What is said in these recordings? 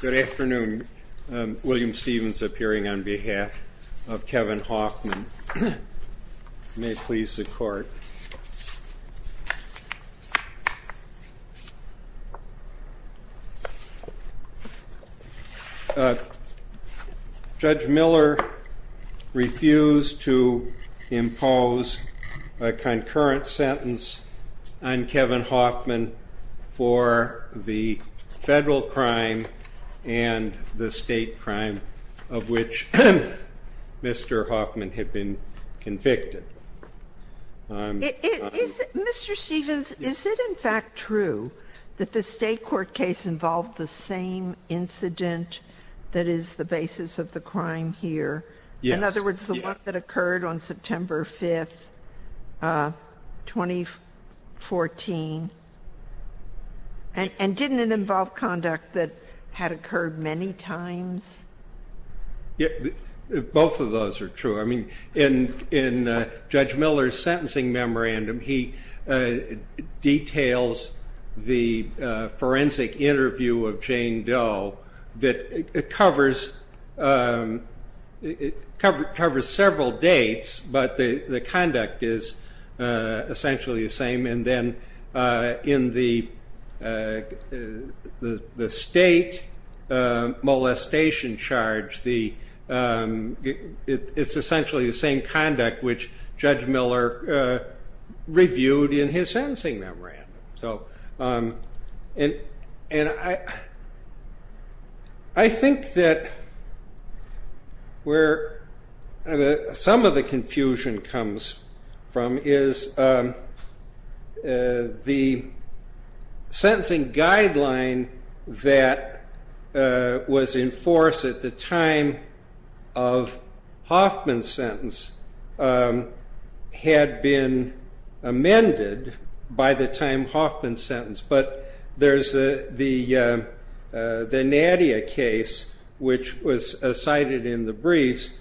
Good afternoon. William Stevens appearing on behalf of Kevin Hoffman. May it please the court. Judge Miller refused to impose a concurrent sentence on Kevin Hoffman for the federal crime and the state crime of which Mr. Hoffman had been convicted. Mr. Stevens, is it in fact true that the state court case involved the same incident that is the basis of the crime here? In other words, the one that occurred on September 5, 2014? And didn't it involve conduct that had occurred many times? Both of those are true. In Judge Miller's sentencing memorandum, he details the forensic interview of Jane Doe that covers several dates, but the conduct is essentially the same. And then in the state molestation charge, it's essentially the same conduct which Judge Miller reviewed in his sentencing memorandum. And I think that where some of the confusion comes from is the sentencing guideline that was in force at the time of Hoffman's sentence had been amended by the time But there's the Nadia case, which was cited in the briefs,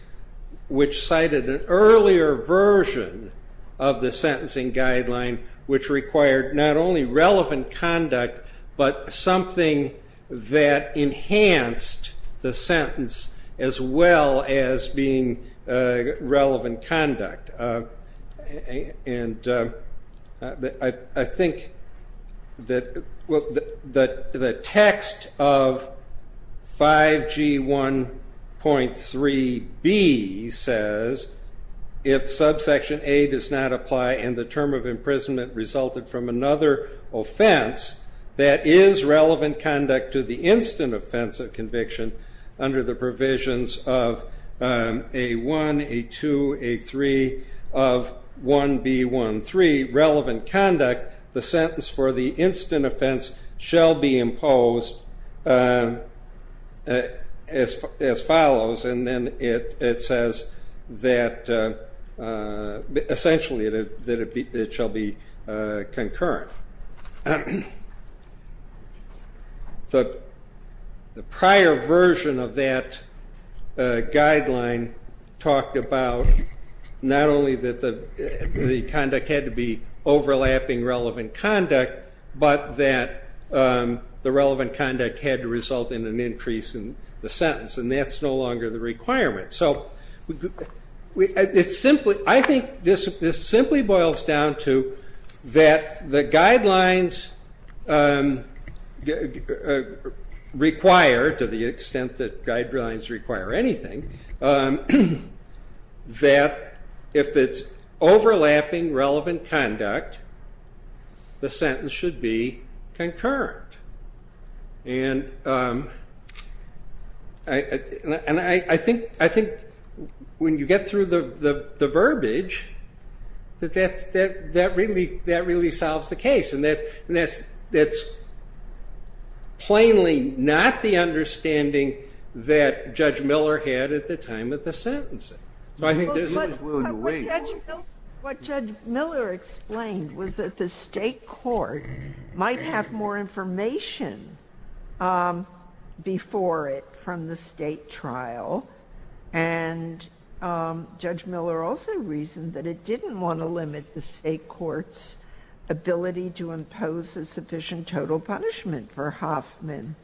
which cited an earlier version of the sentencing guideline, which required not only relevant conduct, but something that enhanced the sentence as well as being relevant conduct. And I think that the text of 5G1.3b says, if subsection A does not apply and the term of imprisonment resulted from another offense, that is relevant conduct to the instant offense of conviction, under the provisions of A1, A2, A3 of 1B1.3, relevant conduct, the sentence for the instant offense shall be imposed as follows, and then it says that essentially it shall be concurrent. However, the prior version of that guideline talked about not only that the conduct had to be overlapping relevant conduct, but that the relevant conduct had to result in an increase in the sentence, and that's no longer the requirement. So I think this simply boils down to that the guidelines require, to the extent that guidelines require anything, that if it's overlapping relevant conduct, the sentence should be concurrent. And I think when you get through the verbiage, that really solves the case. And that's plainly not the understanding that Judge Miller had at the time of the sentencing. What Judge Miller explained was that the state court might have more information before it from the state trial. And Judge Miller also reasoned that it didn't want to limit the state court's ability to impose a sufficient total punishment for Hoffman.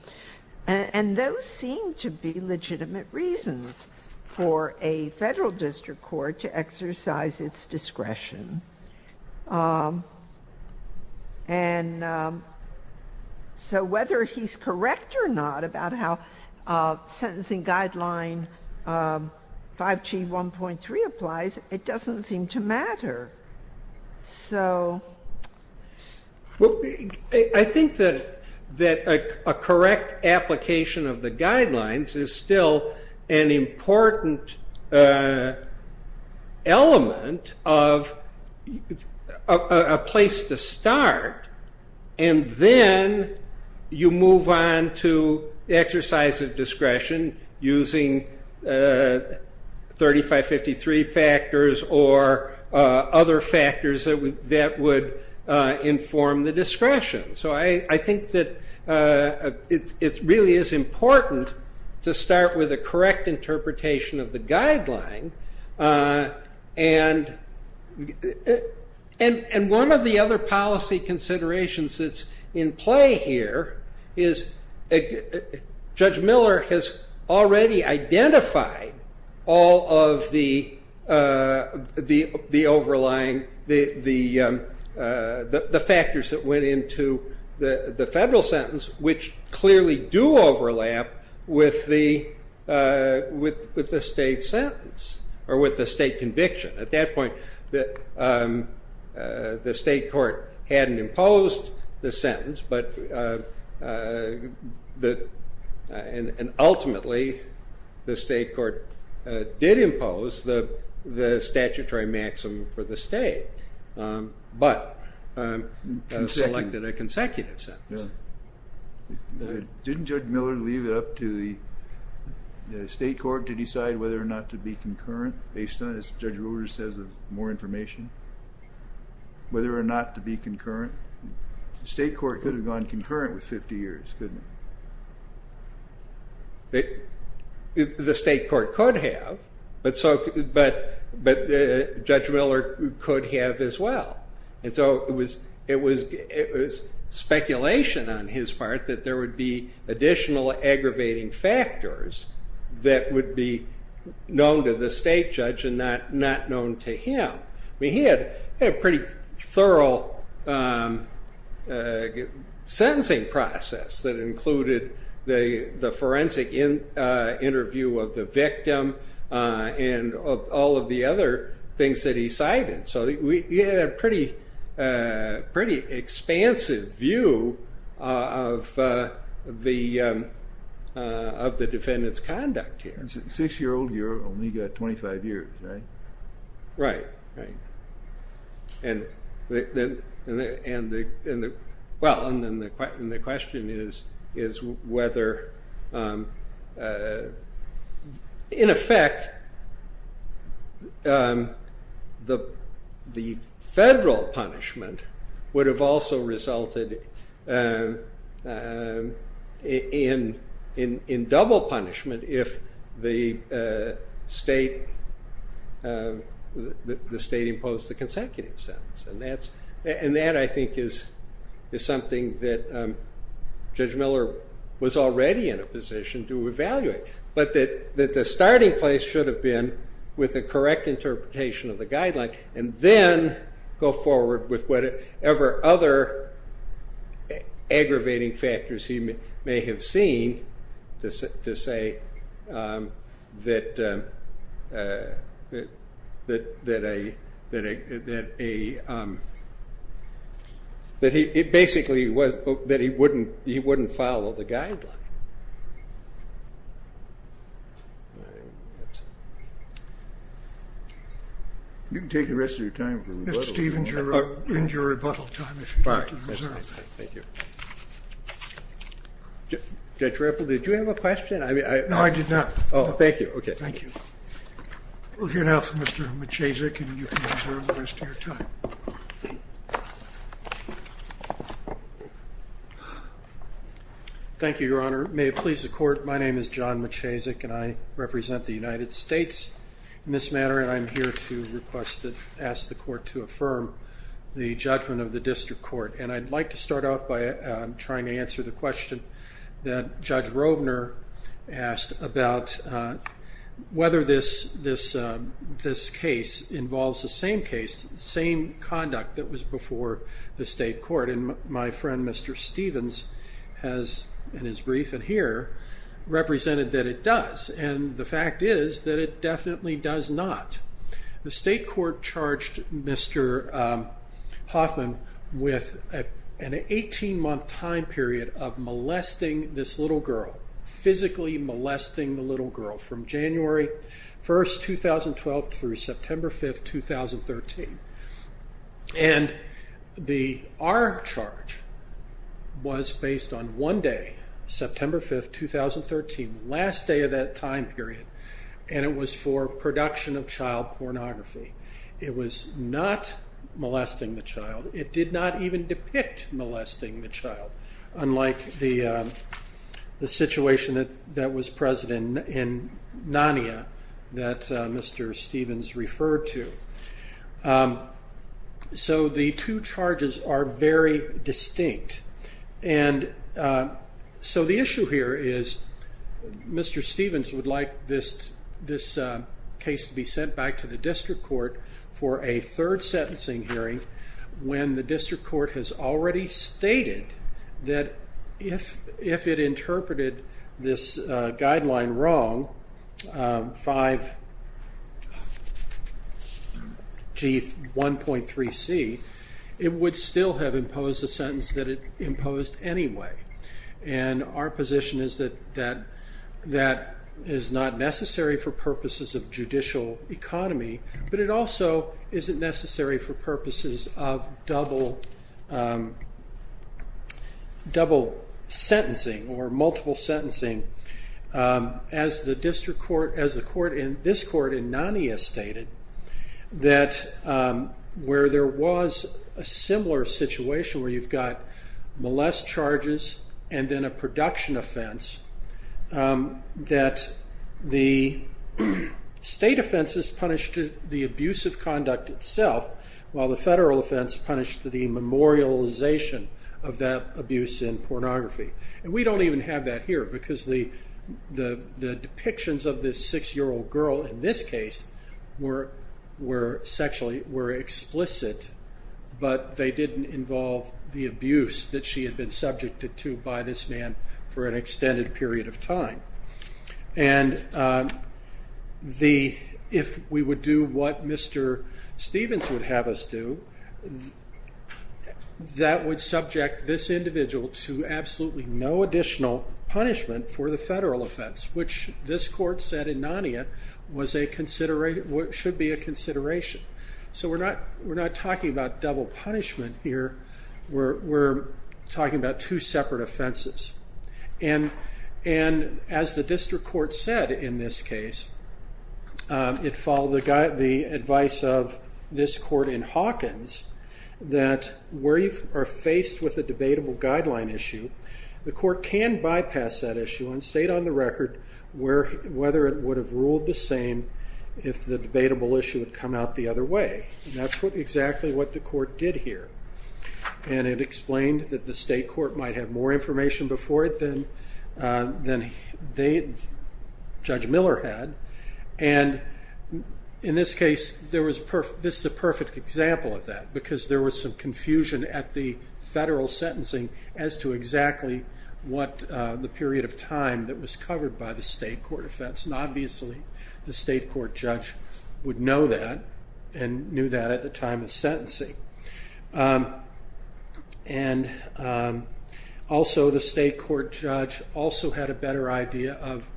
And those seem to be legitimate reasons for a Federal district court to exercise its discretion. And so whether he's correct or not about how sentencing guideline 5G1.3 applies, it doesn't seem to matter. I think that a correct application of the guidelines is still an important element of a place to start. And then you move on to exercise of discretion using 3553 factors or other factors that would inform the discretion. So I think that it really is important to start with a correct interpretation of the guideline. And one of the other policy considerations that's in play here is Judge Miller has already identified all of the factors that went into the Federal sentence, which clearly do overlap with the state sentence or with the state conviction. At that point, the state court hadn't imposed the sentence, and ultimately the state court did impose the statutory maximum for the state, but selected a consecutive sentence. Didn't Judge Miller leave it up to the state court to decide whether or not to be concurrent based on, as Judge Rulers says, more information? Whether or not to be concurrent? The state court could have gone concurrent with 50 years, couldn't it? The state court could have, but Judge Miller could have as well. And so it was speculation on his part that there would be additional aggravating factors that would be known to the state judge and not known to him. He had a pretty thorough sentencing process that included the forensic interview of the victim and all of the other things that he cited. So he had a pretty expansive view of the defendant's conduct here. Six-year-old here only got 25 years, right? Right, right. Well, and the question is whether, in effect, the federal punishment would have also resulted in double punishment if the state imposed the consecutive sentence. And that, I think, is something that Judge Miller was already in a position to evaluate. But that the starting place should have been with a correct interpretation of the guideline and then go forward with whatever other aggravating factors he may have seen to say that he wouldn't follow the guideline. You can take the rest of your time for rebuttal. Mr. Stevens, you're in your rebuttal time if you'd like to reserve that. All right. Thank you. Judge Ripple, did you have a question? No, I did not. Oh, thank you. OK. Thank you. We'll hear now from Mr. Machasek, and you can reserve the rest of your time. Thank you, Your Honor. May it please the Court, my name is John Machasek, and I represent the United States in this matter. And I'm here to request to ask the Court to affirm the judgment of the District Court. And I'd like to start off by trying to answer the question that Judge Rovner asked about whether this case involves the same case, the same conduct that was before the State Court. And my friend Mr. Stevens has, in his brief in here, represented that it does. And the fact is that it definitely does not. The State Court charged Mr. Hoffman with an 18-month time period of molesting this little girl, physically molesting the little girl, from January 1, 2012, through September 5, 2013. And our charge was based on one day, September 5, 2013, the last day of that time period, and it was for production of child pornography. It was not molesting the child. It did not even depict molesting the child, unlike the situation that was present in Narnia that Mr. Stevens referred to. So the two charges are very distinct. And so the issue here is Mr. Stevens would like this case to be sent back to the District Court for a third sentencing hearing when the District Court has already stated that if it interpreted this guideline wrong, 5G1.3C, it would still have imposed a sentence that it imposed anyway. And our position is that that is not necessary for purposes of judicial economy, but it also isn't necessary for purposes of double sentencing or multiple sentencing. As this court in Narnia stated, where there was a similar situation where you've got molest charges and then a production offense, that the state offenses punished the abuse of conduct itself, while the federal offense punished the memorialization of that abuse in pornography. And we don't even have that here, because the depictions of this six-year-old girl in this case were explicit, but they didn't involve the abuse that she had been subjected to by this man for an extended period of time. And if we would do what Mr. Stevens would have us do, that would subject this individual to absolutely no additional punishment for the federal offense, which this court said in Narnia should be a consideration. So we're not talking about double punishment here. We're talking about two separate offenses. And as the district court said in this case, it followed the advice of this court in Hawkins that where you are faced with a debatable guideline issue, the court can bypass that issue and state on the record whether it would have ruled the same if the debatable issue had come out the other way. And that's exactly what the court did here. And it explained that the state court might have more information before it than Judge Miller had. And in this case, this is a perfect example of that, because there was some confusion at the federal sentencing as to exactly what the period of time that was covered by the state court offense. And obviously, the state court judge would know that and knew that at the time of sentencing. And also, the state court judge also had a better idea of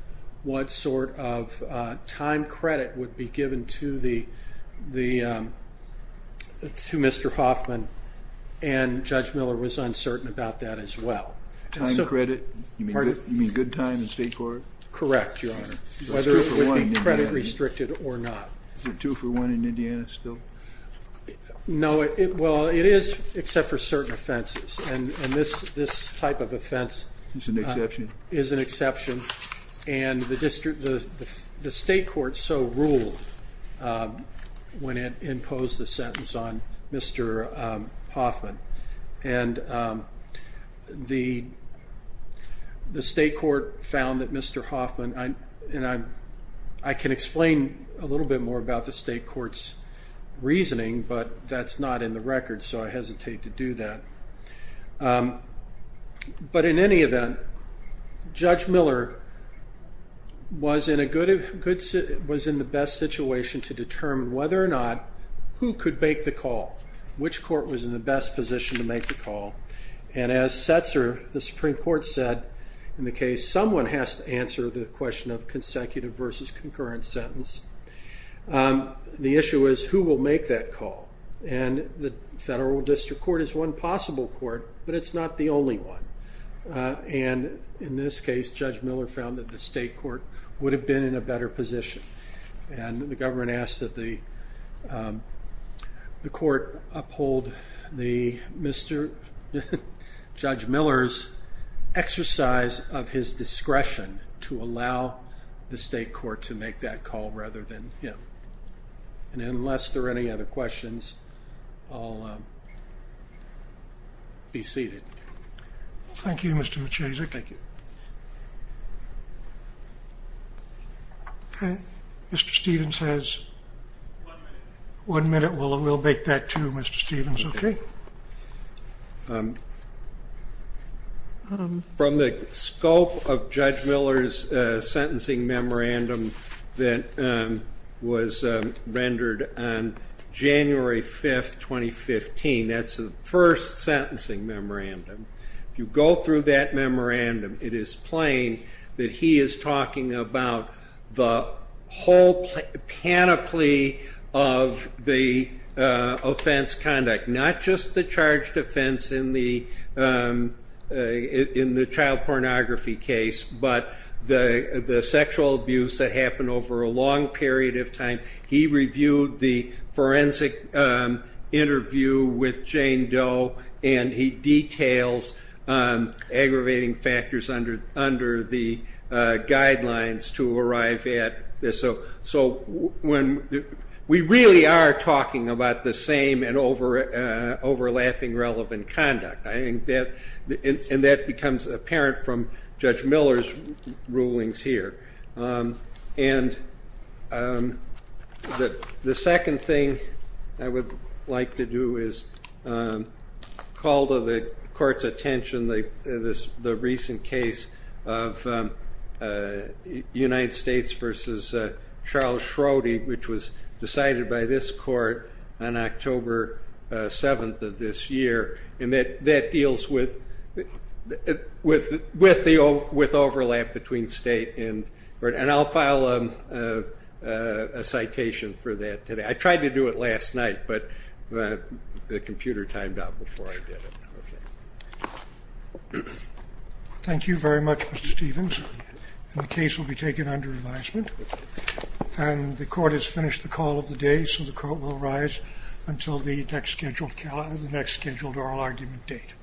what sort of time credit would be given to Mr. Hoffman. And Judge Miller was uncertain about that as well. Time credit? You mean good time in state court? Correct, Your Honor. Whether it would be credit restricted or not. Is it two for one in Indiana still? No, well, it is except for certain offenses. And this type of offense is an exception. And the state court so ruled when it imposed the sentence on Mr. Hoffman. And the state court found that Mr. Hoffman, and I can explain a little bit more about the state court's reasoning, but that's not in the record, so I hesitate to do that. But in any event, Judge Miller was in the best situation to determine whether or not who could make the call, which court was in the best position to make the call. And as Setzer, the Supreme Court, said in the case, someone has to answer the question of consecutive versus concurrent sentence. The issue is who will make that call. And the federal district court is one possible court, but it's not the only one. And in this case, Judge Miller found that the state court would have been in a better position. And the government asked that the court uphold Judge Miller's exercise of his discretion to allow the state court to make that call rather than him. And unless there are any other questions, I'll be seated. Thank you, Mr. Maciasek. Thank you. Mr. Stevens has one minute. We'll make that, too, Mr. Stevens. Okay. From the scope of Judge Miller's sentencing memorandum that was rendered on January 5, 2015, that's the first sentencing memorandum. If you go through that memorandum, it is plain that he is talking about the whole panoply of the offense conduct, not just the charged offense in the child pornography case, but the sexual abuse that happened over a long period of time. He reviewed the forensic interview with Jane Doe, and he details aggravating factors under the guidelines to arrive at. So we really are talking about the same and overlapping relevant conduct. And that becomes apparent from Judge Miller's rulings here. And the second thing I would like to do is call to the court's attention the recent case of United States versus Charles Schroding, which was decided by this court on October 7th of this year, and that that deals with overlap between state. And I'll file a citation for that today. I tried to do it last night, but the computer timed out before I did it. Okay. Thank you very much, Mr. Stevens. And the case will be taken under advisement. And the court has finished the call of the day, so the court will rise until the next scheduled oral argument date.